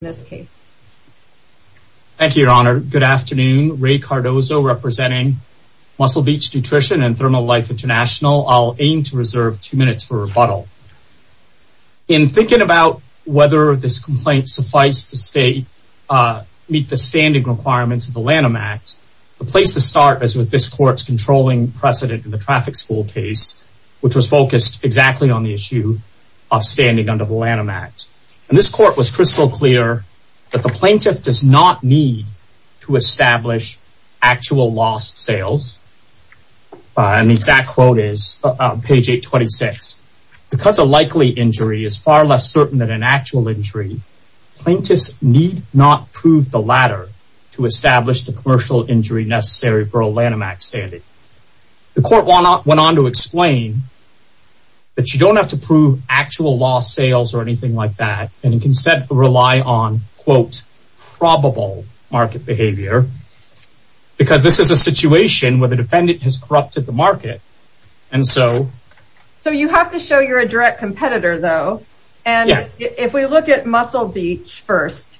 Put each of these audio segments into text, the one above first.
in this case. Thank you, Your Honor. Good afternoon. Ray Cardozo representing Muscle Beach Nutrition and ThermoLife International. I'll aim to reserve two minutes for rebuttal. In thinking about whether this complaint suffice the state meet the standing requirements of the Lanham Act, the place to start is with this court's controlling precedent in the traffic school case, which was focused exactly on the issue of standing under the Lanham Act. And this court was crystal clear that the plaintiff does not need to establish actual lost sales. And the exact quote is page 826. Because a likely injury is far less certain than an actual injury, plaintiffs need not prove the latter to establish the commercial injury necessary for a Lanham Act standing. The court went on to explain that you don't have to prove actual lost sales or anything like that, and instead rely on quote, probable market behavior. Because this is a situation where the defendant has corrupted the market. And so, so you have to show you're a direct competitor, though. And if we look at Muscle Beach first,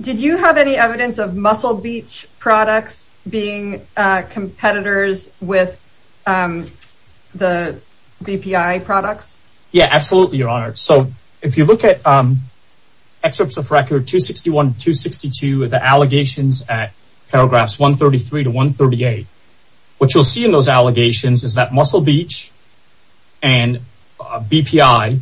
did you have any evidence of Muscle Beach products being competitors with the BPI products? Yeah, absolutely, Your Honor. So if you look at excerpts of record 261, 262, the allegations at paragraphs 133 to 138, what you'll see in those allegations is that Muscle Beach and BPI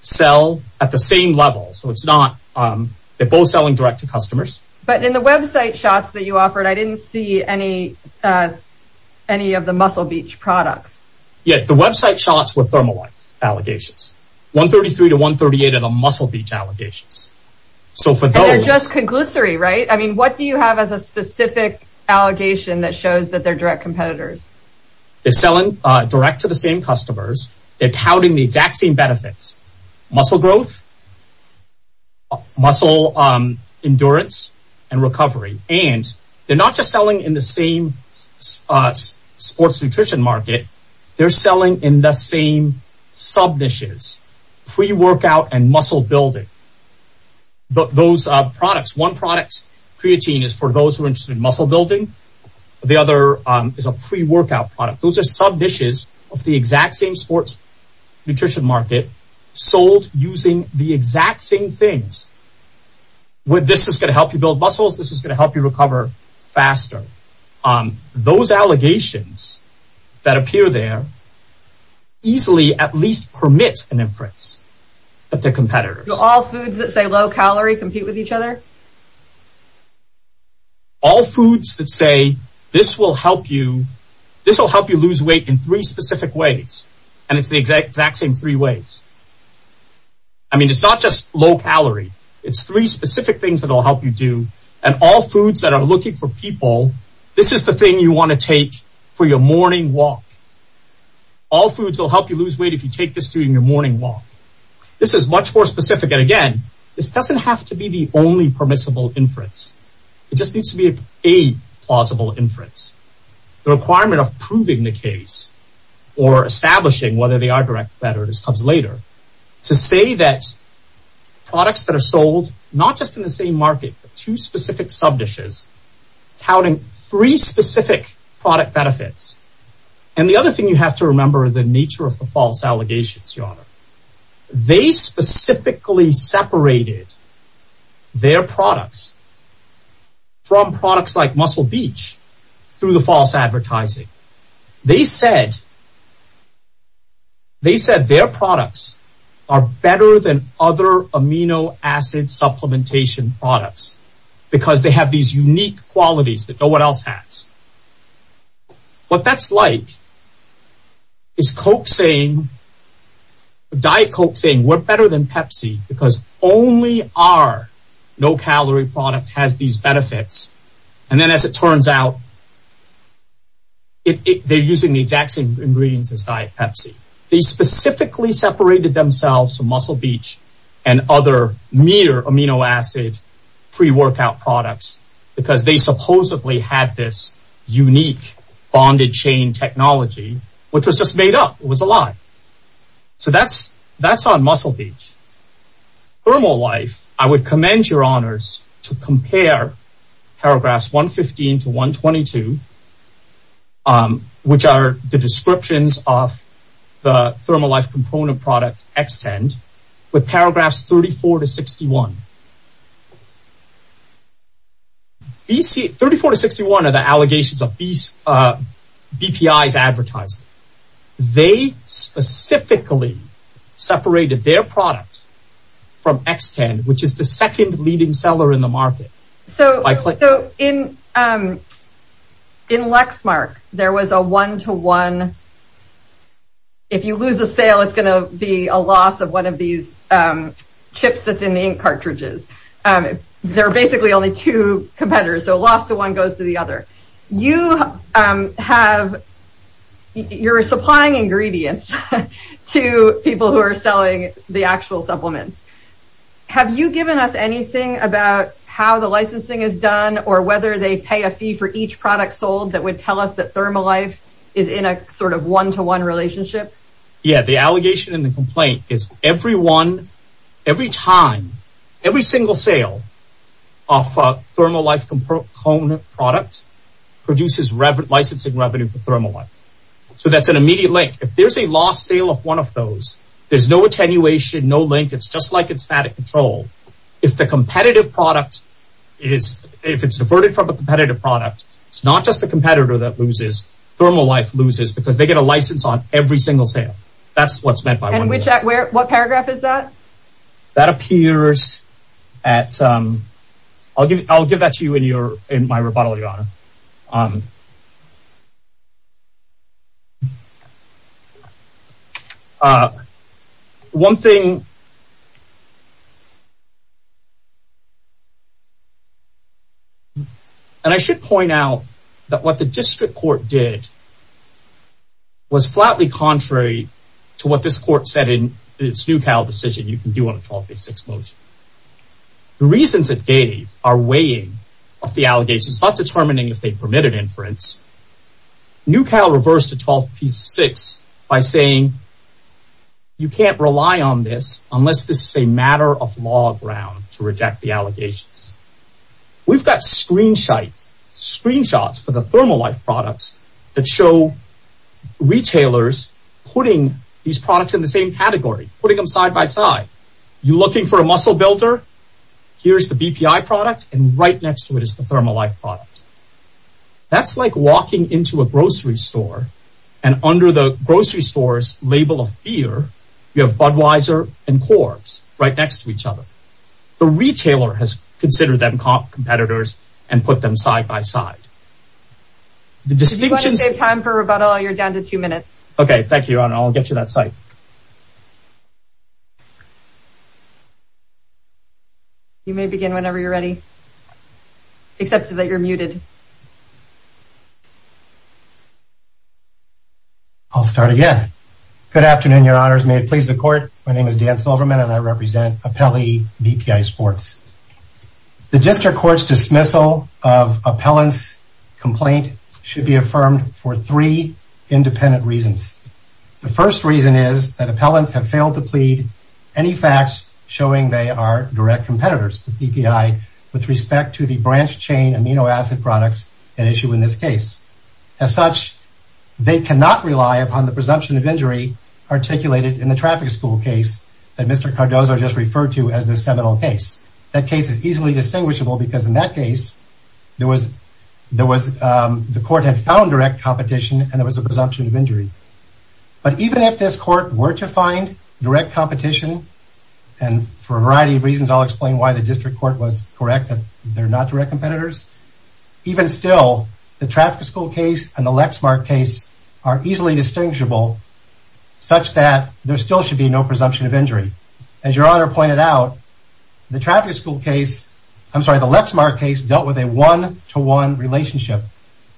sell at the same level. So it's not, they're both selling direct to customers. But in the website shots that you offered, I didn't see any of the Muscle Beach products. Yeah, the website shots were Thermalife allegations. 133 to 138 are the Muscle Beach allegations. So for those... And they're just conglutinary, right? I mean, what do you have as a specific allegation that shows that they're direct competitors? They're selling direct to the same customers. They're touting the exact same benefits, muscle growth, muscle endurance, and recovery. And they're not just selling in the same sports nutrition market. They're selling in the same sub-niches, pre-workout and muscle building. But those products, one product, creatine is for those who are interested in muscle building. The other is a pre-workout product. Those sub-niches of the exact same sports nutrition market sold using the exact same things. This is going to help you build muscles. This is going to help you recover faster. Those allegations that appear there easily at least permit an inference that they're competitors. All foods that say low calorie compete with each other? All foods that say this will help you, this will help you lose weight in three specific ways. And it's the exact same three ways. I mean, it's not just low calorie. It's three specific things that will help you do. And all foods that are looking for people, this is the thing you want to take for your morning walk. All foods will help you lose weight if you take this during your morning walk. This is much more specific. And again, this doesn't have to be the only permissible inference. It just needs to be a plausible inference. The requirement of proving the case or establishing whether they are direct competitors comes later. To say that products that are sold not just in the same market, but two specific sub-niches touting three specific product benefits. And the other thing you have to remember the nature of the false allegations, your honor. They specifically separated their products from products like Muscle Beach through the false advertising. They said their products are better than other amino acid supplementation products because they have these unique qualities that no one else has. What that's like is Diet Coke saying we're better than Pepsi because only our no calorie product has these benefits. And then as it turns out, they're using the exact same ingredients as Diet Pepsi. They specifically separated themselves from Muscle Beach and other mere amino acid pre-workout products because they supposedly had this unique bonded chain technology, which was just made up. It was a lie. So that's on Muscle Beach. Thermolife, I would commend your honors to compare paragraphs 115 to 122, which are the descriptions of the Thermolife component product Xtend with paragraphs 34 to 61. 34 to 61 are the allegations of BPI's advertising. They specifically separated their product from Xtend, which is the second leading seller in the market. So in Lexmark, there was a one-to-one. If you lose a sale, it's going to be a loss of one of these chips that's in the ink cartridges. There are basically only two competitors, so a loss to one goes to the other. You're supplying ingredients to people who are selling the actual supplements. Have you given us anything about how the licensing is done or whether they pay a fee for each product sold that would tell us that Thermolife is in a sort of one-to-one relationship? Yeah, the allegation and the complaint is every one, every time, every single sale of Thermolife component product produces licensing revenue for Thermolife. So that's an attenuation, no link. It's just like it's static control. If the competitive product is, if it's averted from a competitive product, it's not just the competitor that loses. Thermolife loses because they get a license on every single sale. That's what's meant by one-to-one. And what paragraph is that? That appears at, I'll give that to you in my rebuttal, Your Honor. One thing, and I should point out that what the district court did was flatly contrary to what this court said in its NewCal decision, you can do on a 12-6 motion. The reasons it gave are weighing of the allegations, not determining if they permitted inference. NewCal reversed a 12-6 by saying, you can't rely on this unless this is a matter of law ground to reject the allegations. We've got screenshots for the Thermolife products that show retailers putting these products in the same category, putting them side by side. You're looking for a muscle builder. Here's the BPI product and right next to it is the Thermolife product. That's like walking into a grocery store and under the grocery store's label of beer, you have Budweiser and Corbs right next to each other. The retailer has considered them competitors and put them side by side. The distinctions, time for rebuttal. You're down to two minutes. Okay. Thank you, Your Honor. I'll get you that site. You may begin whenever you're ready, except that you're muted. I'll start again. Good afternoon, Your Honors. May it please the court. My name is Dan Silverman and I represent Appellee BPI Sports. The district court's dismissal of appellant's complaint should be affirmed for three independent reasons. The first reason is that appellants have failed to plead any facts showing they are direct competitors with BPI with respect to the branch chain amino acid products at issue in this case. As such, they cannot rely upon the presumption of injury articulated in the traffic school case that Mr. Cardozo just referred to as the seminal case. That case is easily distinguishable because in that case, the court had found direct competition and there was a presumption of injury. But even if this court were to find direct competition, and for a variety of reasons, I'll explain why the district court was correct that they're not direct competitors. Even still, the traffic school case and the Lexmark case are easily distinguishable such that there still should be no presumption of injury. As Your Honor pointed out, the traffic school case, I'm sorry, the Lexmark case dealt with a one-to-one relationship.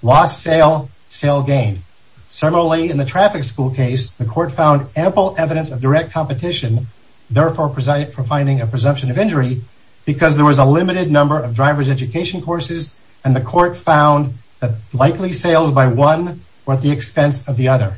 Lost sale, sale gained. Similarly, in the traffic school case, the court found ample evidence of direct competition, therefore presiding for finding a presumption of injury because there was a limited number of driver's education courses and the court found that likely sales by one were at the expense of the other.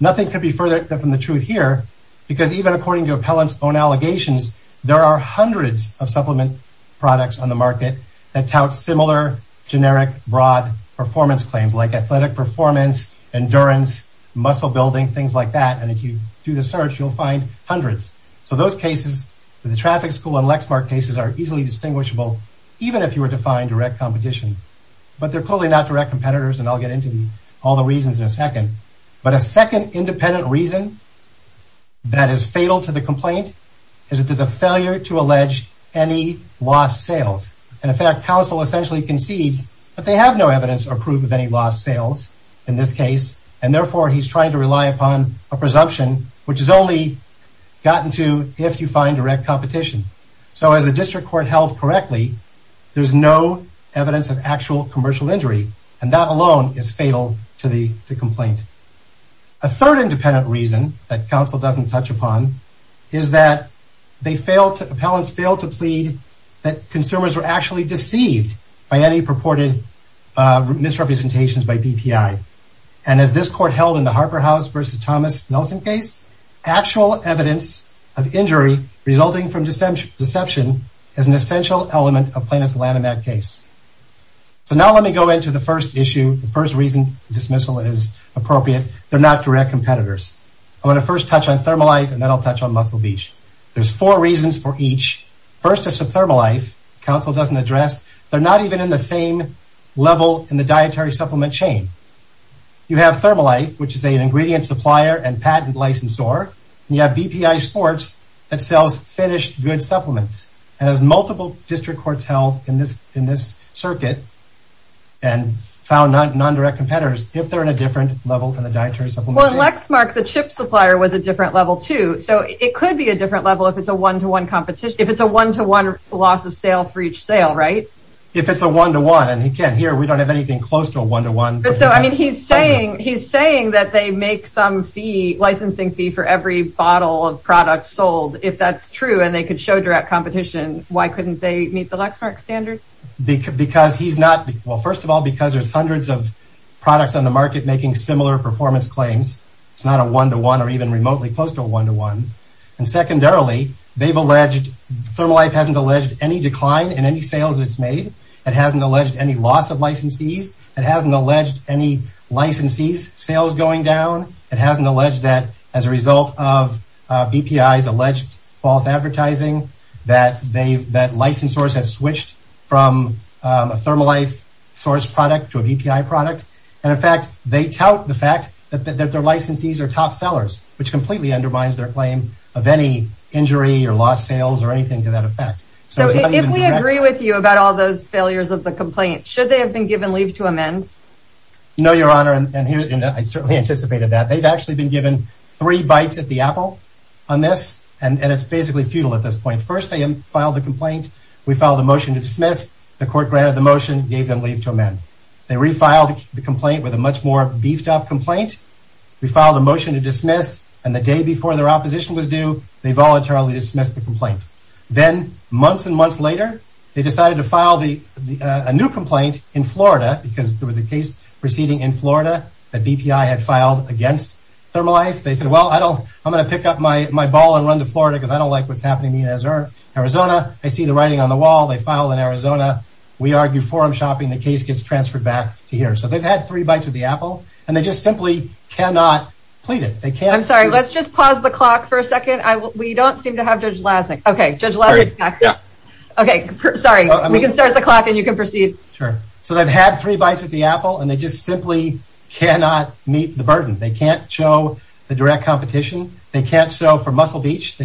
Nothing could be further from the truth here because even according to Appellant's own allegations, there are hundreds of supplement products on the market that tout similar generic broad performance claims like athletic performance, endurance, muscle building, things like that. And if you do the search, you'll find hundreds. So those cases, the traffic school and Lexmark cases are easily distinguishable even if you were to find direct competition. But they're clearly not competitors and I'll get into all the reasons in a second. But a second independent reason that is fatal to the complaint is that there's a failure to allege any lost sales. In fact, counsel essentially concedes that they have no evidence or proof of any lost sales in this case and therefore he's trying to rely upon a presumption which is only gotten to if you find direct competition. So as a district court held correctly, there's no evidence of actual commercial injury and that alone is fatal to the complaint. A third independent reason that counsel doesn't touch upon is that they failed to, Appellants failed to plead that consumers were actually deceived by any purported misrepresentations by BPI. And as this court held in the Harper House versus Thomas Nelson case, actual evidence of injury resulting from deception is an essential element of plaintiff's Lanham Act case. So now let me go into the first issue, the first reason dismissal is appropriate. They're not direct competitors. I want to first touch on Thermolife and then I'll touch on Muscle Beach. There's four reasons for each. First is Thermolife, counsel doesn't address. They're not even in the same level in the dietary supplement chain. You have Thermolife, which is an ingredient supplier and patent licensor. You have BPI Sports that sells finished good supplements. And as multiple district courts held in this circuit and found non-direct competitors, if they're in a different level than the dietary supplement. Well Lexmark, the chip supplier was a different level too. So it could be a different level if it's a one-to-one competition, if it's a one-to-one loss of sale for each sale, right? If it's a one-to-one and again here we don't have anything close to a one-to-one. But so I mean he's saying that they make some fee, licensing fee for every bottle of product sold. If that's true and they could show direct competition, why couldn't they meet the Lexmark standard? Because he's not, well first of all because there's hundreds of products on the market making similar performance claims. It's not a one-to-one or even remotely close to a one-to-one. And secondarily, Thermolife hasn't alleged any decline in any sales it's made. It hasn't alleged any loss of licensees. It hasn't alleged any BPI's alleged false advertising that they that license source has switched from a Thermolife source product to a BPI product. And in fact they tout the fact that their licensees are top sellers which completely undermines their claim of any injury or lost sales or anything to that effect. So if we agree with you about all those failures of the complaint, should they have been given leave to amend? No your honor and here I certainly anticipated that. They've actually been given three bites at the apple on this and it's basically futile at this point. First they filed the complaint. We filed a motion to dismiss. The court granted the motion gave them leave to amend. They refiled the complaint with a much more beefed up complaint. We filed a motion to dismiss and the day before their opposition was due they voluntarily dismissed the complaint. Then months and months later they decided to file a new complaint in Florida because there was a case proceeding in Florida that BPI had filed against Thermolife. They said well I don't I'm going to pick up my my ball and run to Florida because I don't like what's happening here in Arizona. I see the writing on the wall they file in Arizona. We argue forum shopping the case gets transferred back to here. So they've had three bites at the apple and they just simply cannot plead it. They can't. I'm sorry let's just pause the clock for a second. I will we don't seem to have Judge Lasnik. Okay Judge Lasnik's back. Yeah okay sorry we can start the clock and you can proceed. Sure. So they've had three bites at the apple and they just simply cannot meet the burden. They can't show the direct competition. They can't show for Muscle Beach.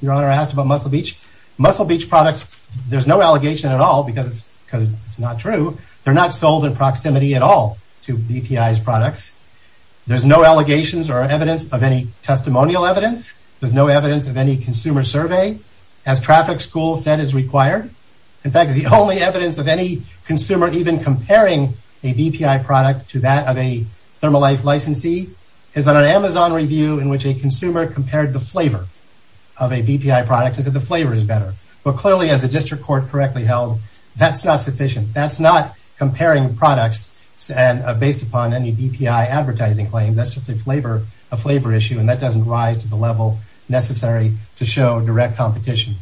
Your honor asked about Muscle Beach. Muscle Beach products there's no allegation at all because it's because it's not true. They're not sold in proximity at all to BPI's products. There's no allegations or evidence of any testimonial evidence. There's no evidence of consumer survey. As traffic school said is required. In fact the only evidence of any consumer even comparing a BPI product to that of a Thermalife licensee is on an Amazon review in which a consumer compared the flavor of a BPI product is that the flavor is better. But clearly as the district court correctly held that's not sufficient. That's not comparing products and based upon any BPI advertising claim. That's just a flavor a flavor issue and that doesn't rise to the level necessary to show direct competition.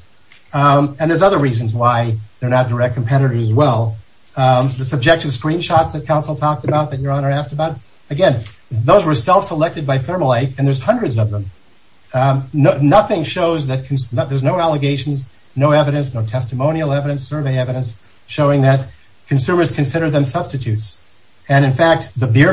And there's other reasons why they're not direct competitors as well. The subjective screenshots that council talked about that your honor asked about. Again those were self-selected by Thermalife and there's hundreds of them. Nothing shows that there's no allegations, no evidence, no testimonial evidence, survey evidence showing that consumers consider them substitutes. And in fact the beer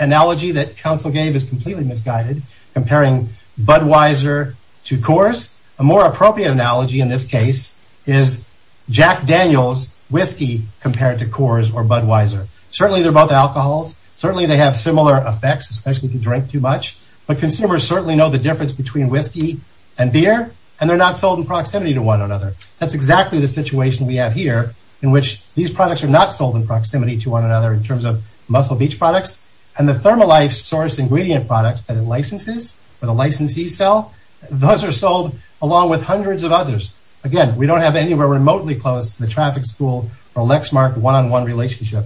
analogy that council gave is completely misguided comparing Budweiser to Coors. A more appropriate analogy in this case is Jack Daniel's whiskey compared to Coors or Budweiser. Certainly they're both alcohols. Certainly they have similar effects especially if you drink too much. But consumers certainly know the difference between whiskey and beer and they're not sold in proximity to one another. That's exactly the situation we have here in which these products are not sold in proximity to one another in terms of Muscle Beach products and the Thermalife source ingredient products that it licenses or the licensees sell. Those are sold along with hundreds of others. Again we don't have anywhere remotely close to the traffic school or Lexmark one-on-one relationship.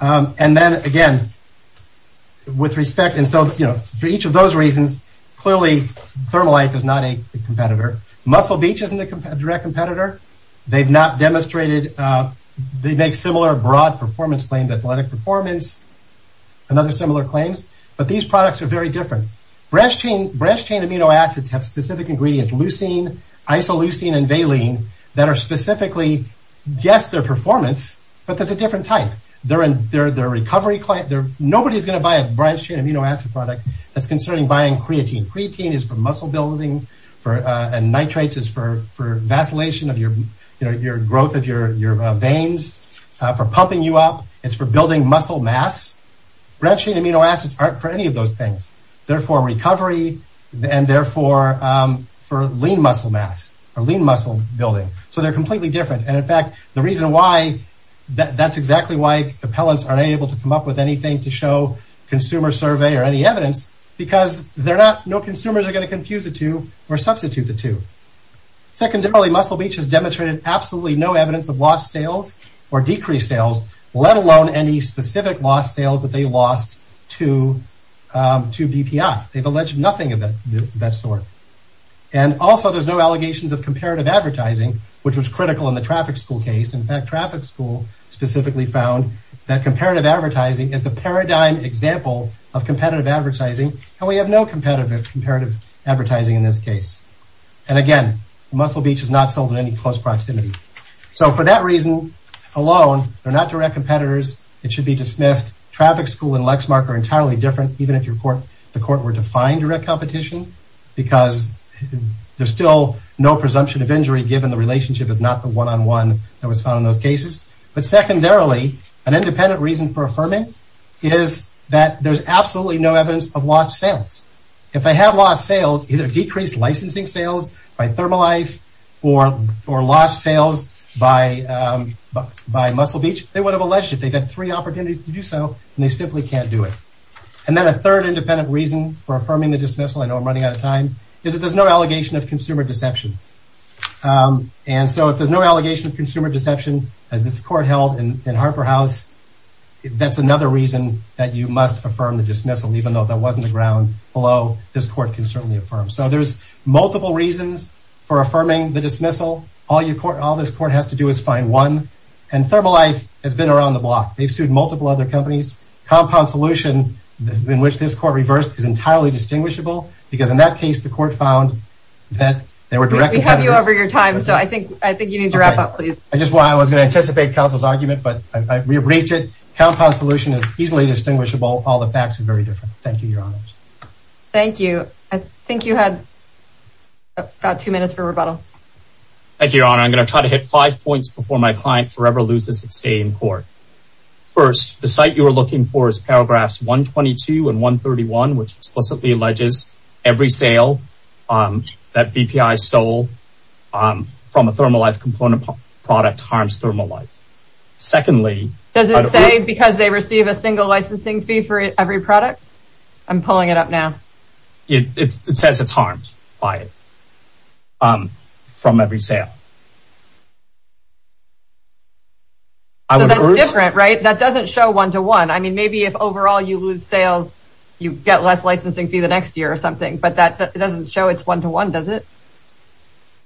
And then again with respect and so you know for each of those reasons clearly Thermalife is not a competitor. Muscle Beach isn't a direct competitor. They've not demonstrated they make similar broad performance claimed athletic performance and other similar claims. But these products are very different. Branched chain amino acids have specific ingredients leucine, isoleucine, and valine that are specifically yes their performance but that's a different type. They're a recovery client. Nobody's going to buy a branched chain amino acid product that's considering buying creatine. Creatine is for muscle building and nitrates is for vacillation of your growth of your veins, for pumping you up. It's for building muscle mass. Branched chain amino acids aren't for any of those things. They're for recovery and therefore for lean muscle mass or lean muscle building. So they're completely different and in fact the reason why that's exactly why appellants aren't able to come up with anything to show consumer survey or any evidence because they're not no consumers are going to confuse the two or substitute the two. Secondarily, Muscle Beach has demonstrated absolutely no evidence of lost sales or decreased sales let alone any specific lost sales that they lost to BPI. They've alleged nothing of that sort and also there's no allegations of comparative advertising which was critical in the traffic school case. In fact traffic school specifically found that comparative advertising is the paradigm example of competitive advertising and we have no competitive comparative advertising in this case and again Muscle Beach is not sold in any close proximity. So for that reason alone they're not direct competitors. It should be dismissed. Traffic school and Lexmark are entirely different even if the court were to find direct competition because there's still no presumption of injury given the relationship is not the one-on-one that was found in those cases. But secondarily an independent reason for affirming is that there's absolutely no evidence of lost sales. If they have lost sales either decreased licensing sales by Thermalife or lost sales by Muscle Beach they would have alleged it. They've had three opportunities to do so and they simply can't do it. And then a third independent reason for affirming the dismissal, I know I'm running out of time, is that there's no allegation of consumer deception. And so if there's no allegation of consumer deception as this court held in Harper House that's another reason that you must affirm the dismissal even though that wasn't the ground below this court can certainly affirm. So there's multiple reasons for affirming the dismissal. All this court has to do is find one and Thermalife has been around the block. They've sued multiple other companies. Compound Solution in which this court reversed is entirely distinguishable because in that case the court found that they were directly... We have you over your time so I think you need to wrap up please. I just was going to anticipate counsel's argument but I re-briefed it. Easily distinguishable. All the facts are very different. Thank you your honor. Thank you. I think you had about two minutes for rebuttal. Thank you your honor. I'm going to try to hit five points before my client forever loses its day in court. First, the site you were looking for is paragraphs 122 and 131 which explicitly alleges every sale that BPI stole from a Thermalife product harms Thermalife. Secondly... Does it say because they receive a single licensing fee for every product? I'm pulling it up now. It says it's harmed by it from every sale. So that's different right? That doesn't show one-to-one. I mean maybe if overall you lose sales you get less licensing fee the next year or something but that doesn't show it's one-to-one does it?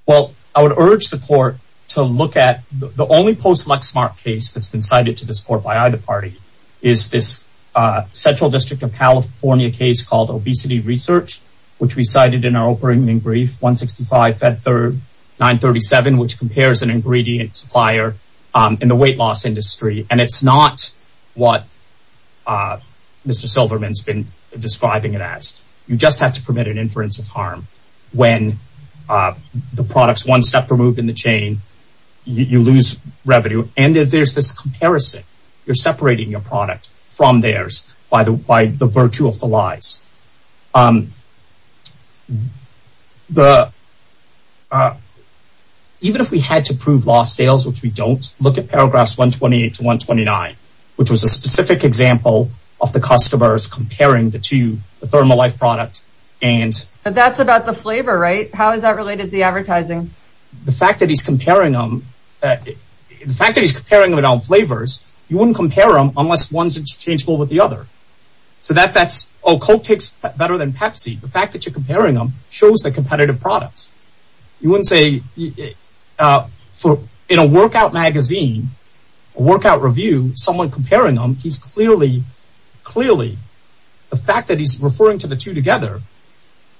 Well I would urge the court to look at the only post Lexmark case that's been cited to this court by either party is this uh Central District of California case called Obesity Research which we cited in our opening brief 165 Fed 3937 which compares an ingredient supplier in the weight loss industry and it's not what uh Mr. Silverman's been describing it as. You just have to permit an inference of harm when the products one step removed in the chain you lose revenue and if there's this comparison you're separating your product from theirs by the by the virtue of the lies. Even if we had to prove lost sales which we don't look at paragraphs 128 to 129 which was a specific example of the customers comparing the two thermal life products and that's about the flavor right? How is that related to the advertising? The fact that he's comparing them the fact that he's comparing them around flavors you wouldn't compare them unless one's interchangeable with the other. So that that's oh Coke takes better than Pepsi the fact that you're comparing them shows the competitive products. You wouldn't say uh for in a workout magazine a workout review someone comparing them he's clearly clearly the fact that he's referring to the two together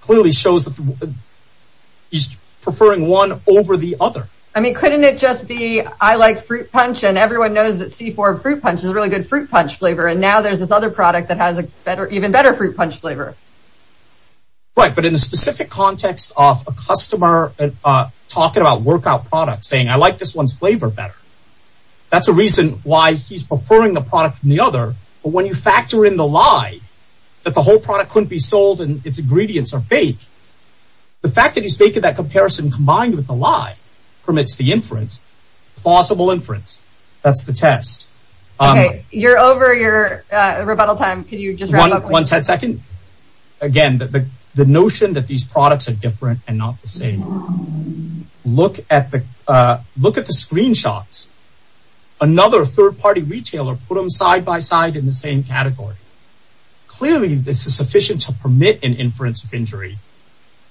clearly shows that he's preferring one over the other. I mean couldn't it just be I like fruit punch and everyone knows that C4 fruit punch is a really good fruit punch flavor and now there's this other product that has a better even better fruit punch flavor. Right but in the specific context of a customer uh talking about workout products saying I like this one's flavor better that's a reason why he's preferring the product from the other but when you factor in the lie that the whole product couldn't be sold and its ingredients are fake the fact that he's making that comparison combined with the lie permits the inference plausible inference that's the test. Okay you're over your uh rebuttal time could you just wrap up one second again the the that these products are different and not the same look at the uh look at the screenshots another third-party retailer put them side by side in the same category. Clearly this is sufficient to permit an inference of injury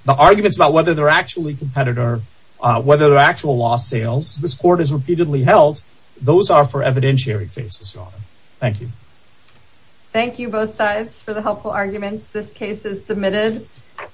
the arguments about whether they're actually competitor uh whether they're actual lost sales this court has repeatedly held those are for evidentiary cases your honor. Thank you. Thank you both sides for the helpful arguments this case is submitted.